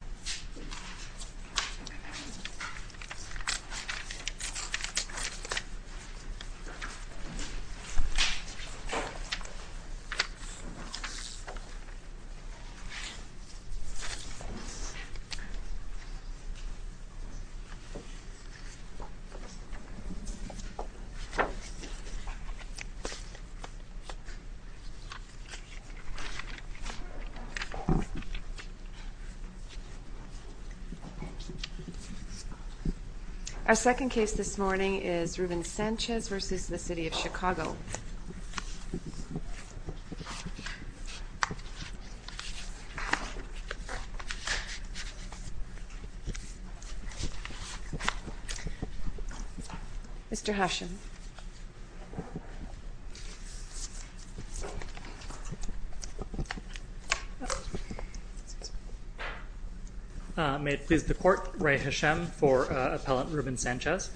Abandoned church wall Our second case this morning is Ruben Sanchez versus the city of Chicago Mr. Hesham May it please the court, Ray Hesham for appellant Ruben Sanchez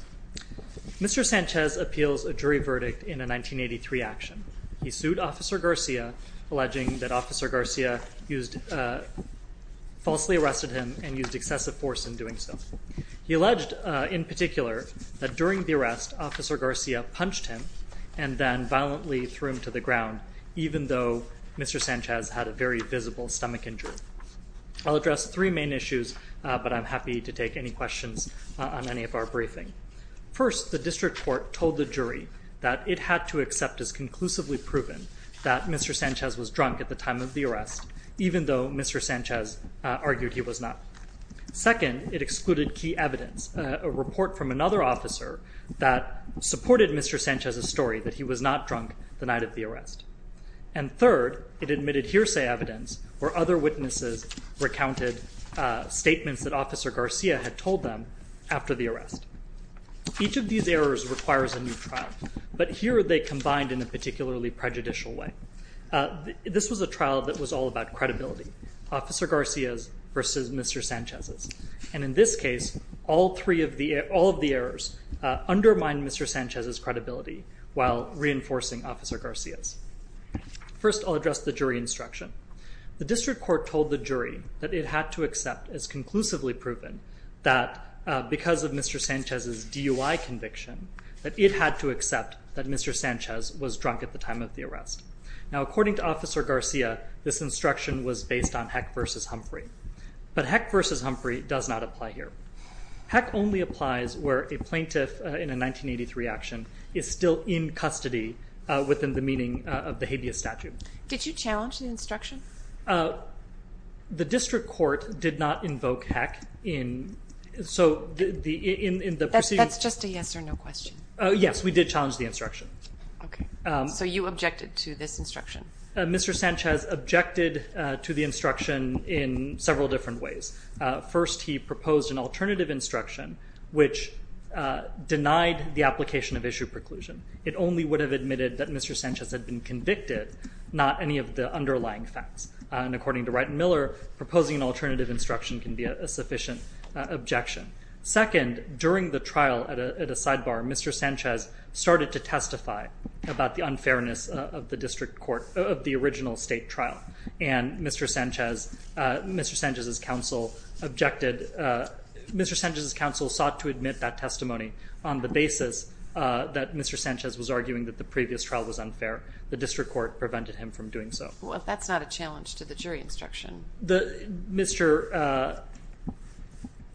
Mr. Sanchez appeals a jury verdict in a 1983 action. He sued officer Garcia alleging that officer Garcia used Falsely arrested him and used excessive force in doing so. He alleged in particular that during the arrest officer Garcia Punched him and then violently threw him to the ground even though mr. Sanchez had a very visible stomach injury I'll address three main issues, but I'm happy to take any questions on any of our briefing First the district court told the jury that it had to accept as conclusively proven that mr. Sanchez was drunk at the time of the arrest even though mr. Sanchez argued he was not Second it excluded key evidence a report from another officer that supported mr. Sanchez a story that he was not drunk the night of the arrest and Other witnesses recounted Statements that officer Garcia had told them after the arrest Each of these errors requires a new trial, but here they combined in a particularly prejudicial way This was a trial that was all about credibility Officer Garcia's versus mr. Sanchez's and in this case all three of the all of the errors Undermined mr. Sanchez's credibility while reinforcing officer Garcia's First I'll address the jury instruction the district court told the jury that it had to accept as conclusively proven that Because of mr. Sanchez's DUI conviction that it had to accept that mr. Sanchez was drunk at the time of the arrest now according to officer Garcia This instruction was based on heck versus Humphrey, but heck versus Humphrey does not apply here Heck only applies where a plaintiff in a 1983 action is still in custody Within the meaning of the habeas statute. Did you challenge the instruction? The district court did not invoke heck in So the in the that's just a yes or no question. Yes, we did challenge the instruction So you objected to this instruction? Mr. Sanchez objected to the instruction in several different ways first he proposed an alternative instruction which Denied the application of issue preclusion. It only would have admitted that mr. Sanchez had been convicted not any of the underlying facts and according to right and Miller proposing an alternative instruction can be a sufficient Objection second during the trial at a sidebar. Mr. Sanchez started to testify About the unfairness of the district court of the original state trial and mr. Sanchez Mr. Sanchez's counsel objected Mr. Sanchez's counsel sought to admit that testimony on the basis that mr Sanchez was arguing that the previous trial was unfair the district court prevented him from doing so Well, if that's not a challenge to the jury instruction the mr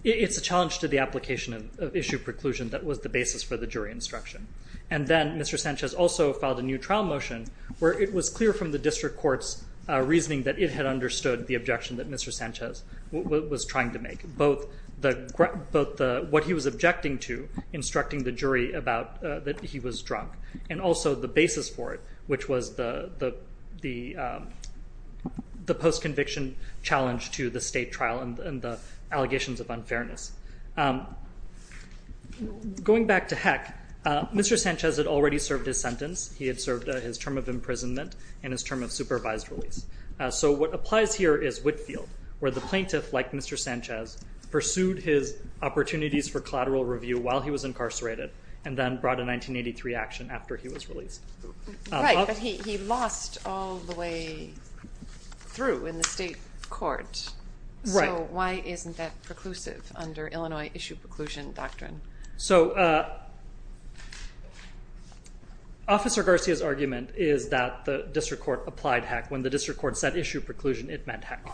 It's a challenge to the application of issue preclusion that was the basis for the jury instruction and then mr Sanchez also filed a new trial motion where it was clear from the district courts Reasoning that it had understood the objection that mr. Sanchez was trying to make both the both what he was objecting to instructing the jury about that he was drunk and also the basis for it, which was the the The post-conviction challenge to the state trial and the allegations of unfairness Going back to heck mr. Sanchez had already served his sentence He had served his term of imprisonment and his term of supervised release. So what applies here is Whitfield where the plaintiff like? Mr. Sanchez pursued his opportunities for collateral review while he was incarcerated and then brought a 1983 action after he was released He lost all the way Through in the state court, right? Why isn't that preclusive under Illinois issue preclusion doctrine? So Officer Garcia's argument is that the district court applied heck when the district court said issue preclusion it meant heck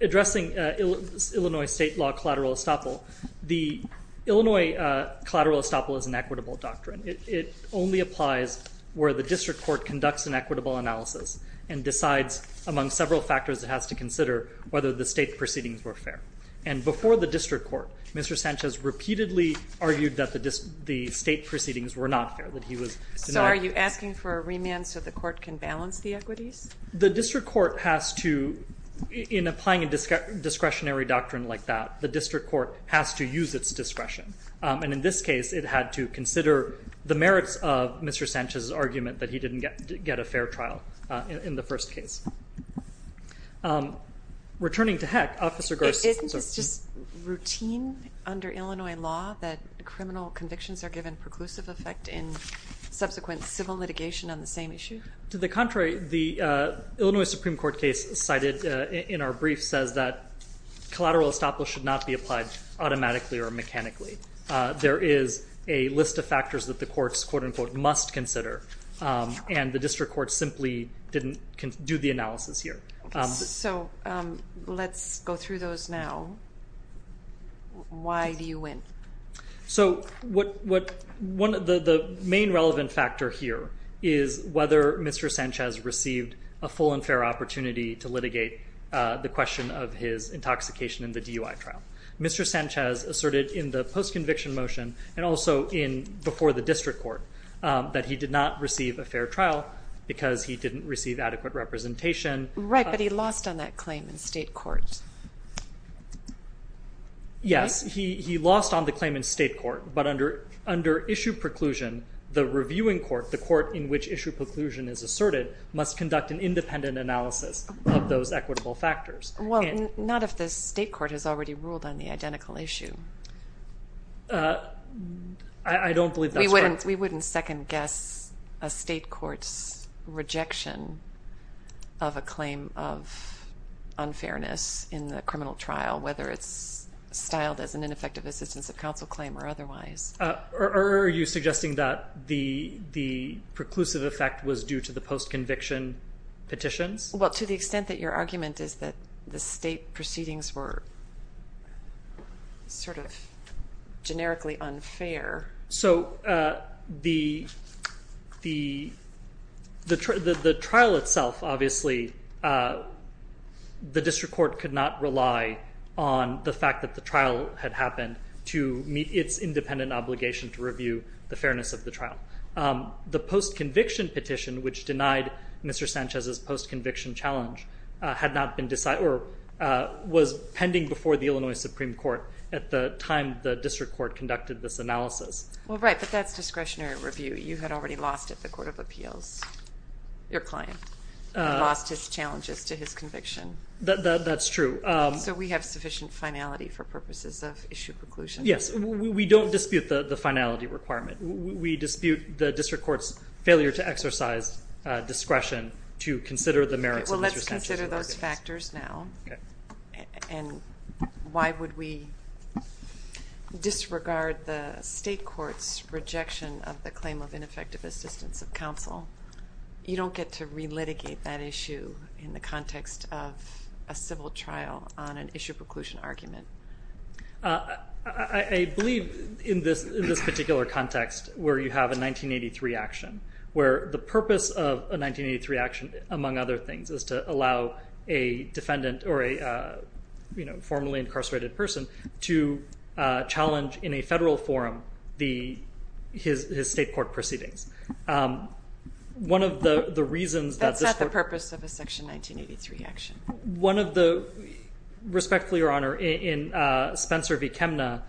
addressing Illinois state law collateral estoppel the Illinois collateral estoppel is an equitable doctrine It only applies where the district court conducts an equitable analysis and decides among several factors It has to consider whether the state proceedings were fair and before the district court. Mr Sanchez repeatedly argued that the just the state proceedings were not fair that he was so are you asking for a remand? So the court can balance the equities the district court has to in applying a Discretionary doctrine like that the district court has to use its discretion and in this case it had to consider the merits of mr Sanchez's argument that he didn't get to get a fair trial in the first case Returning to heck officer It's just routine under Illinois law that criminal convictions are given preclusive effect in Subsequent civil litigation on the same issue to the contrary the Illinois Supreme Court case cited in our brief says that Collateral estoppel should not be applied automatically or mechanically There is a list of factors that the courts quote-unquote must consider And the district court simply didn't do the analysis here. So Let's go through those now Why do you win? So what what one of the the main relevant factor here is whether mr Sanchez received a full and fair opportunity to litigate the question of his intoxication in the DUI trial Mr. Sanchez asserted in the post conviction motion and also in before the district court That he did not receive a fair trial because he didn't receive adequate representation, right? But he lost on that claim in state court Yes, he he lost on the claim in state court But under under issue preclusion the reviewing court the court in which issue preclusion is asserted must conduct an independent analysis Of those equitable factors. Well, not if this state court has already ruled on the identical issue I Don't believe we wouldn't we wouldn't second-guess a state courts rejection of a claim of unfairness in the criminal trial whether it's styled as an ineffective assistance of counsel claim or otherwise or are you suggesting that the the Preclusive effect was due to the post conviction Petitions. Well to the extent that your argument is that the state proceedings were Sort of generically unfair so the the The the trial itself obviously The district court could not rely on the fact that the trial had happened to meet its independent obligation to review the fairness of the trial The post conviction petition which denied mr. Sanchez's post conviction challenge had not been decided or Was pending before the Illinois Supreme Court at the time the district court conducted this analysis Well, right, but that's discretionary review. You had already lost at the Court of Appeals Your client Lost his challenges to his conviction. That's true. So we have sufficient finality for purposes of issue preclusion Yes, we don't dispute the the finality requirement. We dispute the district courts failure to exercise Discretion to consider the merits. Well, let's consider those factors now and Why would we? Disregard the state courts rejection of the claim of ineffective assistance of counsel You don't get to relitigate that issue in the context of a civil trial on an issue preclusion argument. I Believe in this in this particular context where you have a 1983 action where the purpose of a 1983 action among other things is to allow a defendant or a you know formerly incarcerated person to challenge in a federal forum the His his state court proceedings One of the the reasons that's not the purpose of a section 1983 action one of the respectfully your honor in Spencer v. Kemna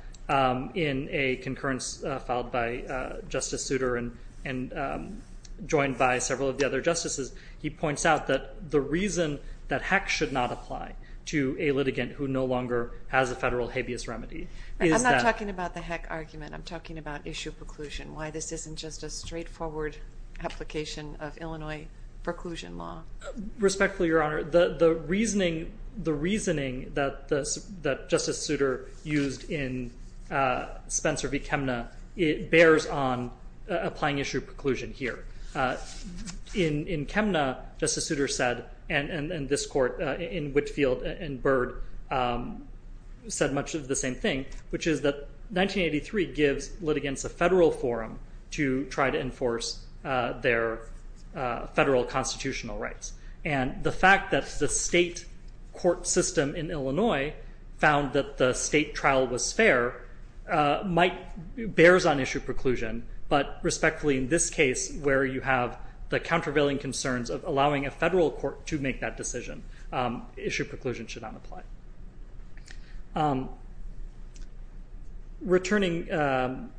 in a concurrence filed by Justice Souter and and Joined by several of the other justices He points out that the reason that heck should not apply to a litigant who no longer has a federal habeas remedy I'm not talking about the heck argument. I'm talking about issue preclusion why this isn't just a straightforward application of Illinois preclusion law Respectfully your honor the the reasoning the reasoning that this that Justice Souter used in Spencer v. Kemna it bears on applying issue preclusion here In in Kemna Justice Souter said and and this court in Whitfield and Byrd Said much of the same thing which is that 1983 gives litigants a federal forum to try to enforce their Federal constitutional rights and the fact that the state court system in Illinois found that the state trial was fair might bears on issue preclusion But respectfully in this case where you have the countervailing concerns of allowing a federal court to make that decision Issue preclusion should not apply Returning To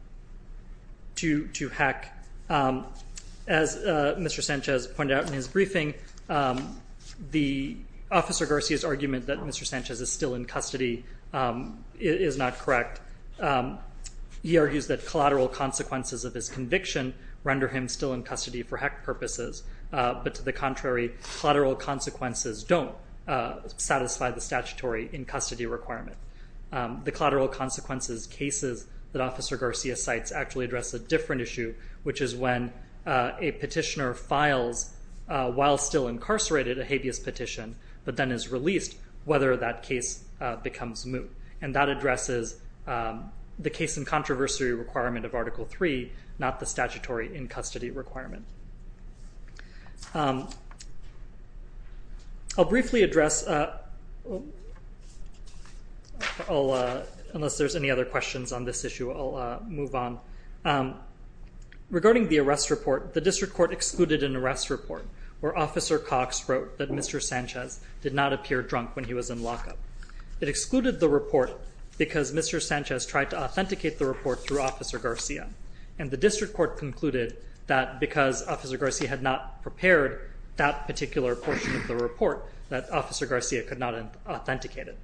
to heck as Mr. Sanchez pointed out in his briefing The officer Garcia's argument that mr. Sanchez is still in custody Is not correct He argues that collateral consequences of his conviction render him still in custody for heck purposes But to the contrary collateral consequences don't Satisfy the statutory in custody requirement The collateral consequences cases that officer Garcia cites actually address a different issue Which is when a petitioner files While still incarcerated a habeas petition, but then is released whether that case becomes moot and that addresses The case in controversy requirement of article 3 not the statutory in custody requirement I'll Briefly address All unless there's any other questions on this issue I'll move on Regarding the arrest report the district court excluded an arrest report where officer Cox wrote that mr Sanchez did not appear drunk when he was in lockup it excluded the report because mr Sanchez tried to authenticate the report through officer Garcia and the district court concluded that Because officer Garcia had not prepared that particular portion of the report that officer Garcia could not Authenticate it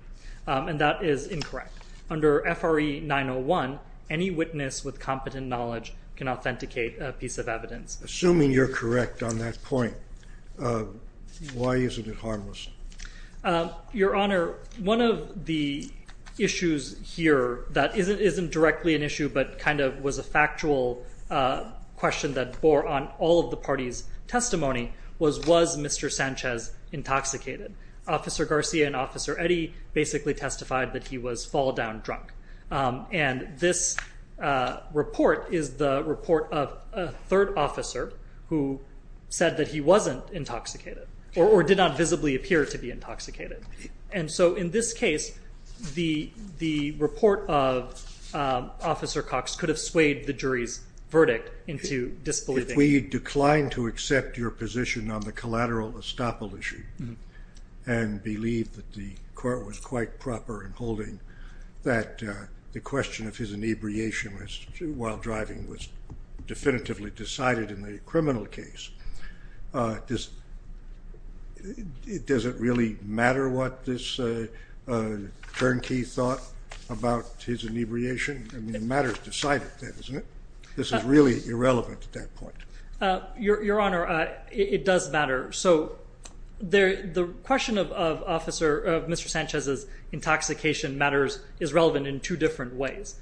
and that is incorrect under FRE 901 any witness with competent knowledge Can authenticate a piece of evidence assuming you're correct on that point? Why isn't it harmless? your honor one of the Issues here that isn't isn't directly an issue, but kind of was a factual Question that bore on all of the party's testimony was was mr Sanchez intoxicated officer Garcia and officer Eddie basically testified that he was fall-down drunk and this Report is the report of a third officer who? Said that he wasn't intoxicated or did not visibly appear to be intoxicated. And so in this case the the report of Officer Cox could have swayed the jury's verdict into disbelief we declined to accept your position on the collateral estoppel issue and believed that the court was quite proper and holding that the question of his inebriation was while driving was definitively decided in the criminal case this It doesn't really matter what this Bernke thought about his inebriation matters decided that isn't it? This is really irrelevant at that point Your honor. It does matter. So There the question of officer of mr. Sanchez's Intoxication matters is relevant in two different ways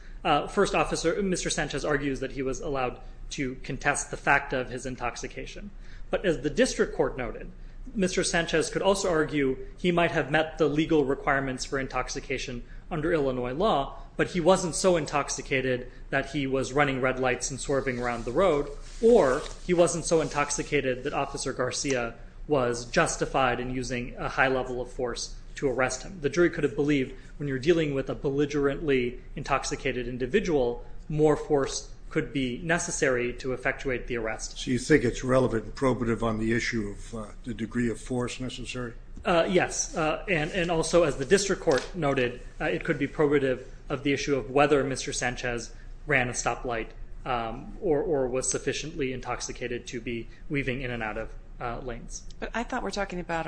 First officer. Mr. Sanchez argues that he was allowed to contest the fact of his intoxication. But as the district court noted Mr. Sanchez could also argue he might have met the legal requirements for intoxication under Illinois law but he wasn't so intoxicated that he was running red lights and swerving around the road or he wasn't so intoxicated that officer Garcia was Justified and using a high level of force to arrest him. The jury could have believed when you're dealing with a belligerently Intoxicated individual more force could be necessary to effectuate the arrest So you think it's relevant probative on the issue of the degree of force necessary Yes, and and also as the district court noted it could be probative of the issue of whether mr. Sanchez ran a stoplight Or or was sufficiently intoxicated to be weaving in and out of lanes But I thought we're talking about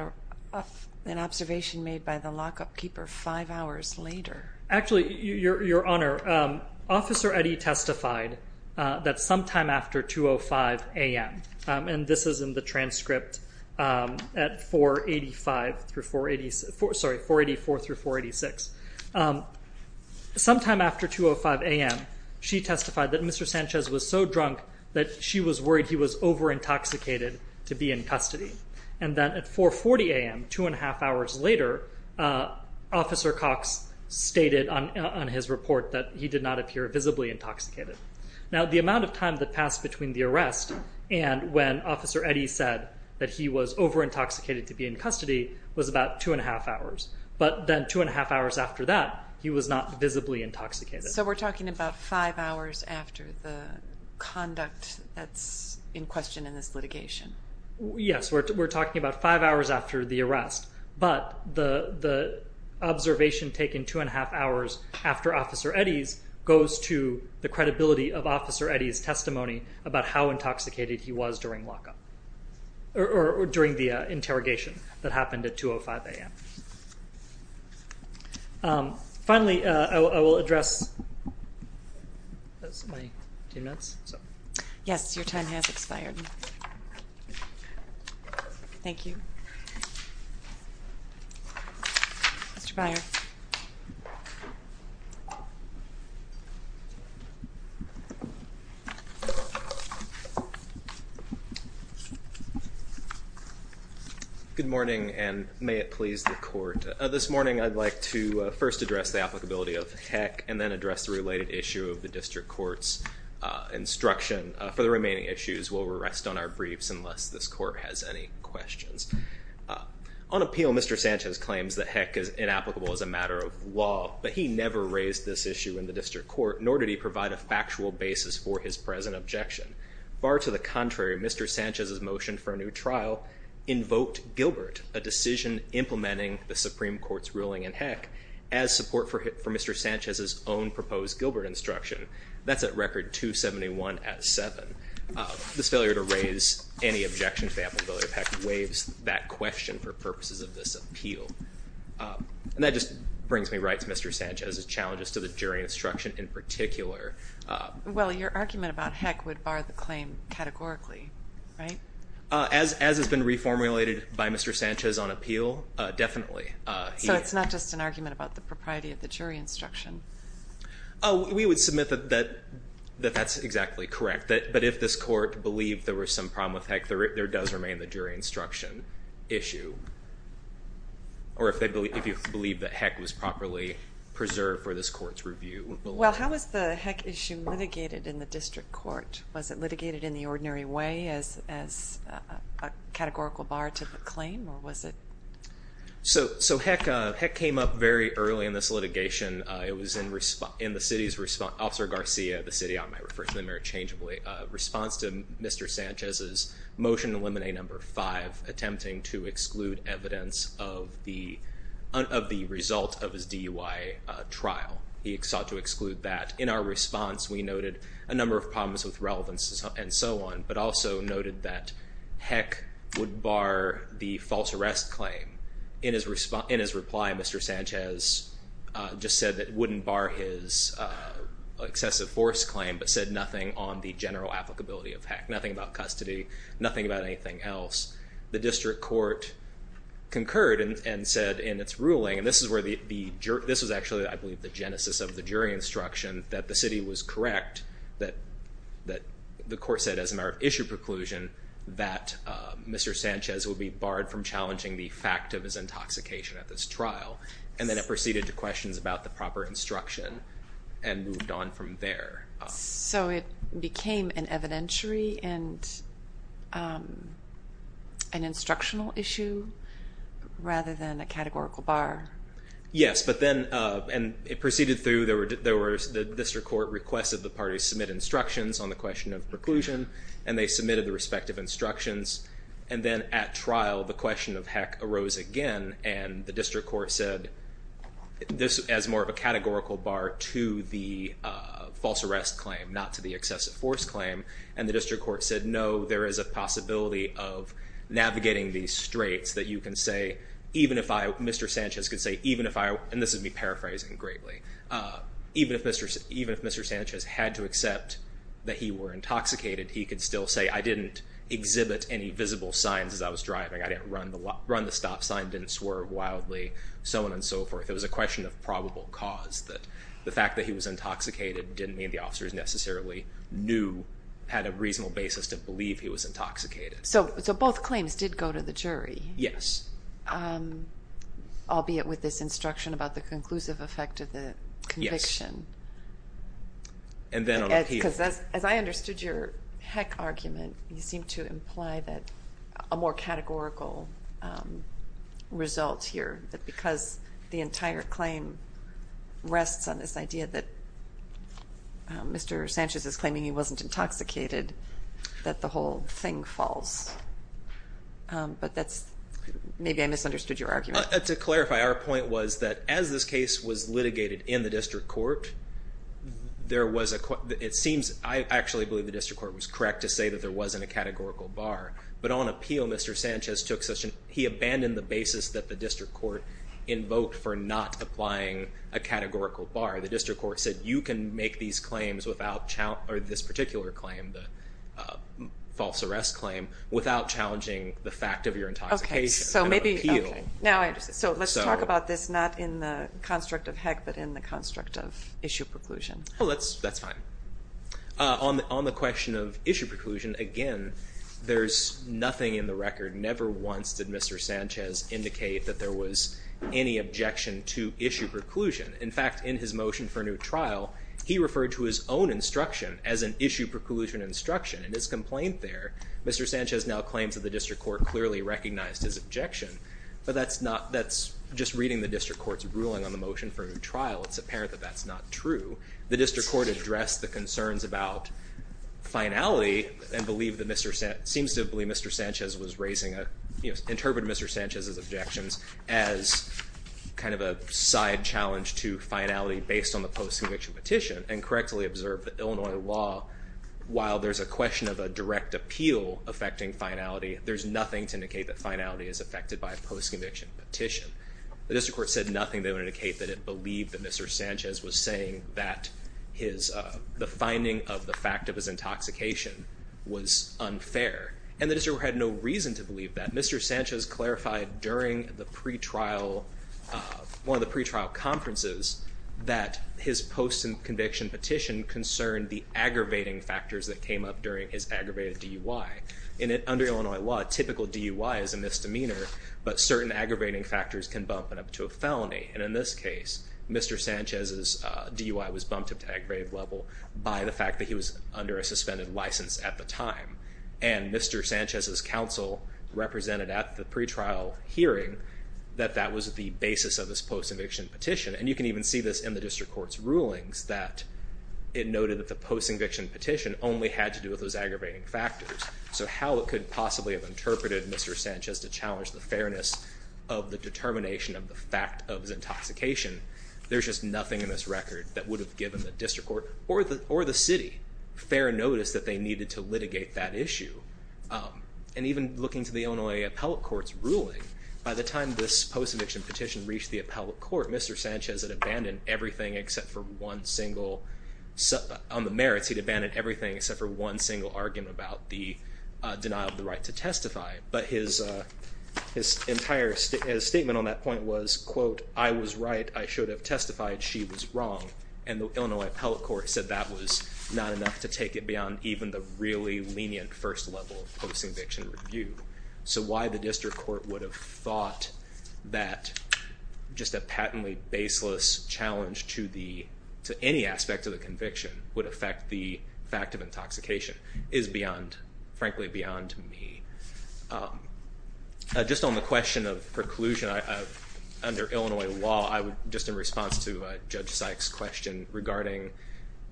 an observation made by the lockup keeper five hours later Actually your honor Officer Eddie testified that sometime after 2 o 5 a.m. And this is in the transcript at 485 through 480 for sorry 484 through 486 Sometime after 2 o 5 a.m. She testified that mr. Sanchez was so drunk that she was worried He was over intoxicated to be in custody and then at 440 a.m. Two and a half hours later Officer Cox stated on his report that he did not appear visibly intoxicated now the amount of time that passed between the arrest and When officer Eddie said that he was over intoxicated to be in custody was about two and a half hours But then two and a half hours after that he was not visibly intoxicated. So we're talking about five hours after the Conduct that's in question in this litigation Yes, we're talking about five hours after the arrest but the the observation taken two and a half hours after officer Eddie's goes to the credibility of officer Eddie's testimony about how intoxicated he was during lockup Or during the interrogation that happened at 2 o 5 a.m. Finally I will address Yes, your time has expired Thank you Mr. Byer Good morning, and may it please the court this morning I'd like to first address the applicability of heck and then address the related issue of the district courts Instruction for the remaining issues will rest on our briefs unless this court has any questions On appeal. Mr. Sanchez claims that heck is inapplicable as a matter of law But he never raised this issue in the district court nor did he provide a factual basis for his present objection far to the contrary Mr. Sanchez's motion for a new trial Invoked Gilbert a decision implementing the Supreme Court's ruling in heck as support for him for mr Gilbert instruction that's at record 271 at 7 This failure to raise any objection to the applicability of heck waives that question for purposes of this appeal And that just brings me right to mr. Sanchez's challenges to the jury instruction in particular Well your argument about heck would bar the claim categorically, right? As has been reformulated by mr. Sanchez on appeal definitely. So it's not just an argument about the propriety of the jury instruction We would submit that that that that's exactly correct that but if this court believed there was some problem with heck There does remain the jury instruction issue Or if they believe if you believe that heck was properly preserved for this court's review Well, how was the heck issue litigated in the district court? Was it litigated in the ordinary way as as a categorical bar to the claim or was it So so heck heck came up very early in this litigation It was in response in the city's response officer Garcia the city. I might refer to the mirror changeably response to mr Sanchez's motion eliminate number five attempting to exclude evidence of the Of the result of his DUI Trial he sought to exclude that in our response We noted a number of problems with relevance and so on but also noted that heck would bar the false arrest claim In his response in his reply. Mr. Sanchez Just said that wouldn't bar his Excessive force claim but said nothing on the general applicability of heck nothing about custody. Nothing about anything else the district court Concurred and said in its ruling and this is where the jerk this was actually I believe the genesis of the jury instruction that the city was correct that that the court said as an art issue preclusion that Mr. Sanchez would be barred from challenging the fact of his intoxication at this trial and then it proceeded to questions about the proper instruction and moved on from there, so it became an evidentiary and An instructional issue Rather than a categorical bar Yes But then and it proceeded through there were there were the district court requested the party submit instructions on the question of preclusion and they Submitted the respective instructions and then at trial the question of heck arose again, and the district court said this as more of a categorical bar to the False arrest claim not to the excessive force claim and the district court said no there is a possibility of Navigating these straights that you can say even if I mr. Sanchez could say even if I and this would be paraphrasing greatly Even if mr. Even if mr. Sanchez had to accept that he were intoxicated he could still say I didn't Exhibit any visible signs as I was driving. I didn't run the run the stop sign didn't swerve wildly so on and so forth It was a question of probable cause that the fact that he was intoxicated didn't mean the officers necessarily Knew had a reasonable basis to believe he was intoxicated. So it's a both claims did go to the jury. Yes I'll be it with this instruction about the conclusive effect of the conviction And then as I understood your heck argument you seem to imply that a more categorical Result here that because the entire claim rests on this idea that Mr. Sanchez is claiming he wasn't intoxicated that the whole thing false But that's maybe I misunderstood your argument to clarify our point was that as this case was litigated in the district court There was a court. It seems I actually believe the district court was correct to say that there wasn't a categorical bar But on appeal mr. Sanchez took session He abandoned the basis that the district court invoked for not applying a categorical bar the district court said you can make these claims without child or this particular claim the False arrest claim without challenging the fact of your intoxication. Okay, so maybe you know So let's talk about this not in the construct of heck, but in the construct of issue preclusion. Oh, that's that's fine On the on the question of issue preclusion again, there's nothing in the record never once did mr Sanchez indicate that there was any objection to issue preclusion in fact in his motion for a new trial He referred to his own instruction as an issue preclusion instruction and his complaint there. Mr Sanchez now claims that the district court clearly recognized his objection, but that's not that's just reading the district courts ruling on the motion for a new Trial, it's apparent that that's not true. The district court addressed the concerns about Finality and believe that mr. Set seems to believe mr. Sanchez was raising a yes interpret. Mr. Sanchez's objections as Kind of a side challenge to finality based on the post-conviction petition and correctly observed the Illinois law While there's a question of a direct appeal affecting finality There's nothing to indicate that finality is affected by a post-conviction petition. The district court said nothing They would indicate that it believed that mr Sanchez was saying that his the finding of the fact of his intoxication was Unfair and the district had no reason to believe that mr. Sanchez clarified during the pretrial one of the pretrial conferences that his post and conviction petition concerned the Aggravating factors that came up during his aggravated DUI in it under Illinois law typical DUI is a misdemeanor But certain aggravating factors can bump it up to a felony and in this case mr Sanchez's DUI was bumped up to aggravated level by the fact that he was under a suspended license at the time and Mr. Sanchez's counsel Represented at the pretrial hearing that that was at the basis of this post eviction petition and you can even see this in the district court's rulings that It noted that the post eviction petition only had to do with those aggravating factors. So how it could possibly have interpreted Mr. Sanchez to challenge the fairness of the determination of the fact of his intoxication There's just nothing in this record that would have given the district court or the or the city Fair notice that they needed to litigate that issue And even looking to the Illinois appellate court's ruling by the time this post eviction petition reached the appellate court. Mr Sanchez had abandoned everything except for one single set on the merits he'd abandoned everything except for one single argument about the denial of the right to testify, but his His entire statement on that point was quote. I was right I should have testified she was wrong and the Illinois appellate court said that was Not enough to take it beyond even the really lenient first level of post eviction review So why the district court would have thought that? Just a patently baseless Challenge to the to any aspect of the conviction would affect the fact of intoxication is beyond frankly beyond me Just on the question of preclusion Under Illinois law, I would just in response to Judge Sykes question regarding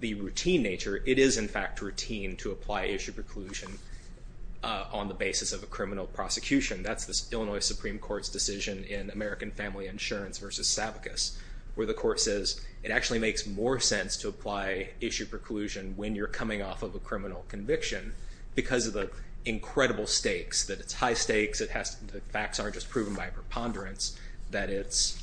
the routine nature It is in fact routine to apply issue preclusion On the basis of a criminal prosecution That's this Illinois Supreme Court's decision in American Family Insurance versus Savickas Where the court says it actually makes more sense to apply issue preclusion when you're coming off of a criminal conviction Because of the incredible stakes that it's high stakes The facts aren't just proven by preponderance that it's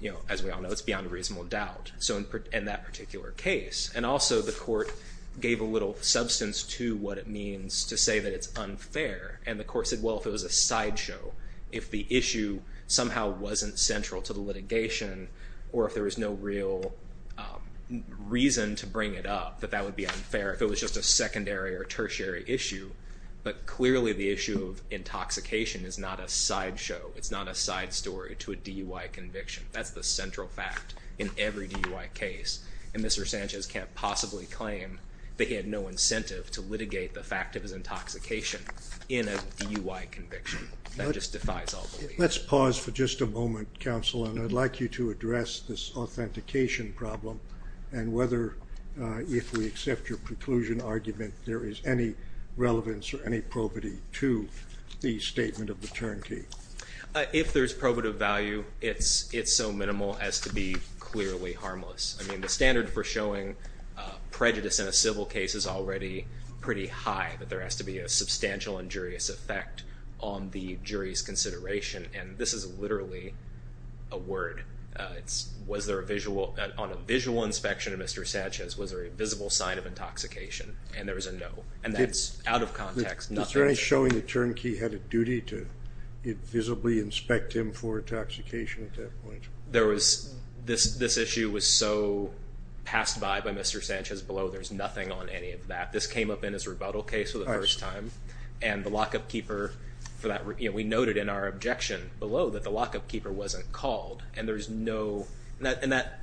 you know, as we all know it's beyond a reasonable doubt So in that particular case and also the court gave a little substance to what it means to say that it's unfair And the court said well if it was a sideshow if the issue somehow wasn't central to the litigation or if there was no real Reason to bring it up that that would be unfair if it was just a secondary or tertiary issue but clearly the issue of Intoxication is not a sideshow. It's not a side story to a DUI conviction That's the central fact in every DUI case and Mr. Sanchez can't possibly claim that he had no incentive to litigate the fact of his intoxication in a DUI conviction That just defies all beliefs. Let's pause for just a moment counsel, and I'd like you to address this authentication problem and whether if we accept your preclusion argument, there is any Relevance or any probity to the statement of the turnkey If there's probative value, it's it's so minimal as to be clearly harmless. I mean the standard for showing Prejudice in a civil case is already pretty high that there has to be a substantial injurious effect on the jury's consideration and this is literally a Word it's was there a visual on a visual inspection of Mr. Sanchez was there a visible sign of intoxication and there was a no and that's out of context Nothing showing the turnkey had a duty to it visibly inspect him for intoxication at that point There was this this issue was so Passed by by Mr. Sanchez below. There's nothing on any of that This came up in his rebuttal case for the first time and the lockup keeper For that we noted in our objection below that the lockup keeper wasn't called and there's no and that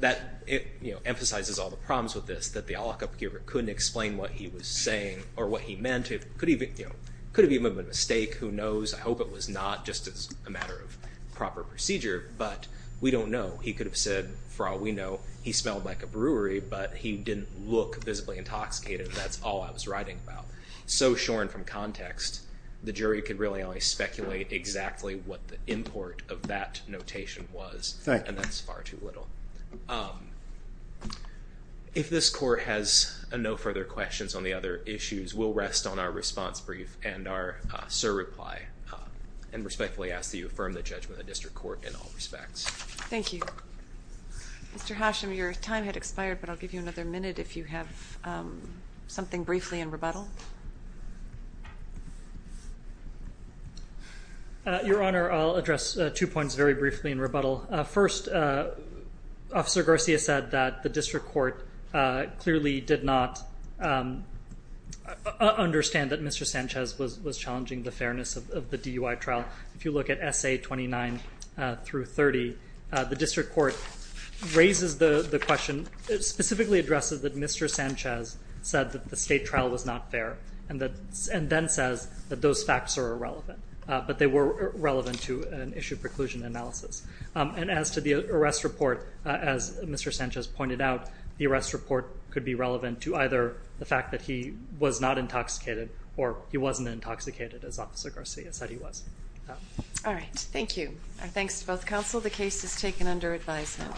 That it emphasizes all the problems with this that the lockup keeper couldn't explain what he was saying or what he meant It could even you know, could it be a mistake? Who knows? I hope it was not just as a matter of proper procedure, but we don't know He could have said for all we know he smelled like a brewery, but he didn't look visibly intoxicated That's all I was writing about so shorn from context The jury could really only speculate exactly what the import of that notation was and that's far too little If this court has a no further questions on the other issues will rest on our response brief and our sir reply And respectfully ask that you affirm the judgment of district court in all respects. Thank you Mr. Hashim your time had expired, but I'll give you another minute if you have something briefly in rebuttal Your Honor I'll address two points very briefly in rebuttal first Officer Garcia said that the district court clearly did not Understand that mr. Sanchez was was challenging the fairness of the DUI trial if you look at SA 29 through 30 the district court Raises the the question it specifically addresses that mr. Sanchez said that the state trial was not fair and that and then says that those facts are irrelevant But they were relevant to an issue preclusion analysis and as to the arrest report as mr. Sanchez pointed out the arrest report could be relevant to either the fact that he was not intoxicated or he wasn't Intoxicated as officer Garcia said he was All right. Thank you. Thanks to both counsel. The case is taken under advisement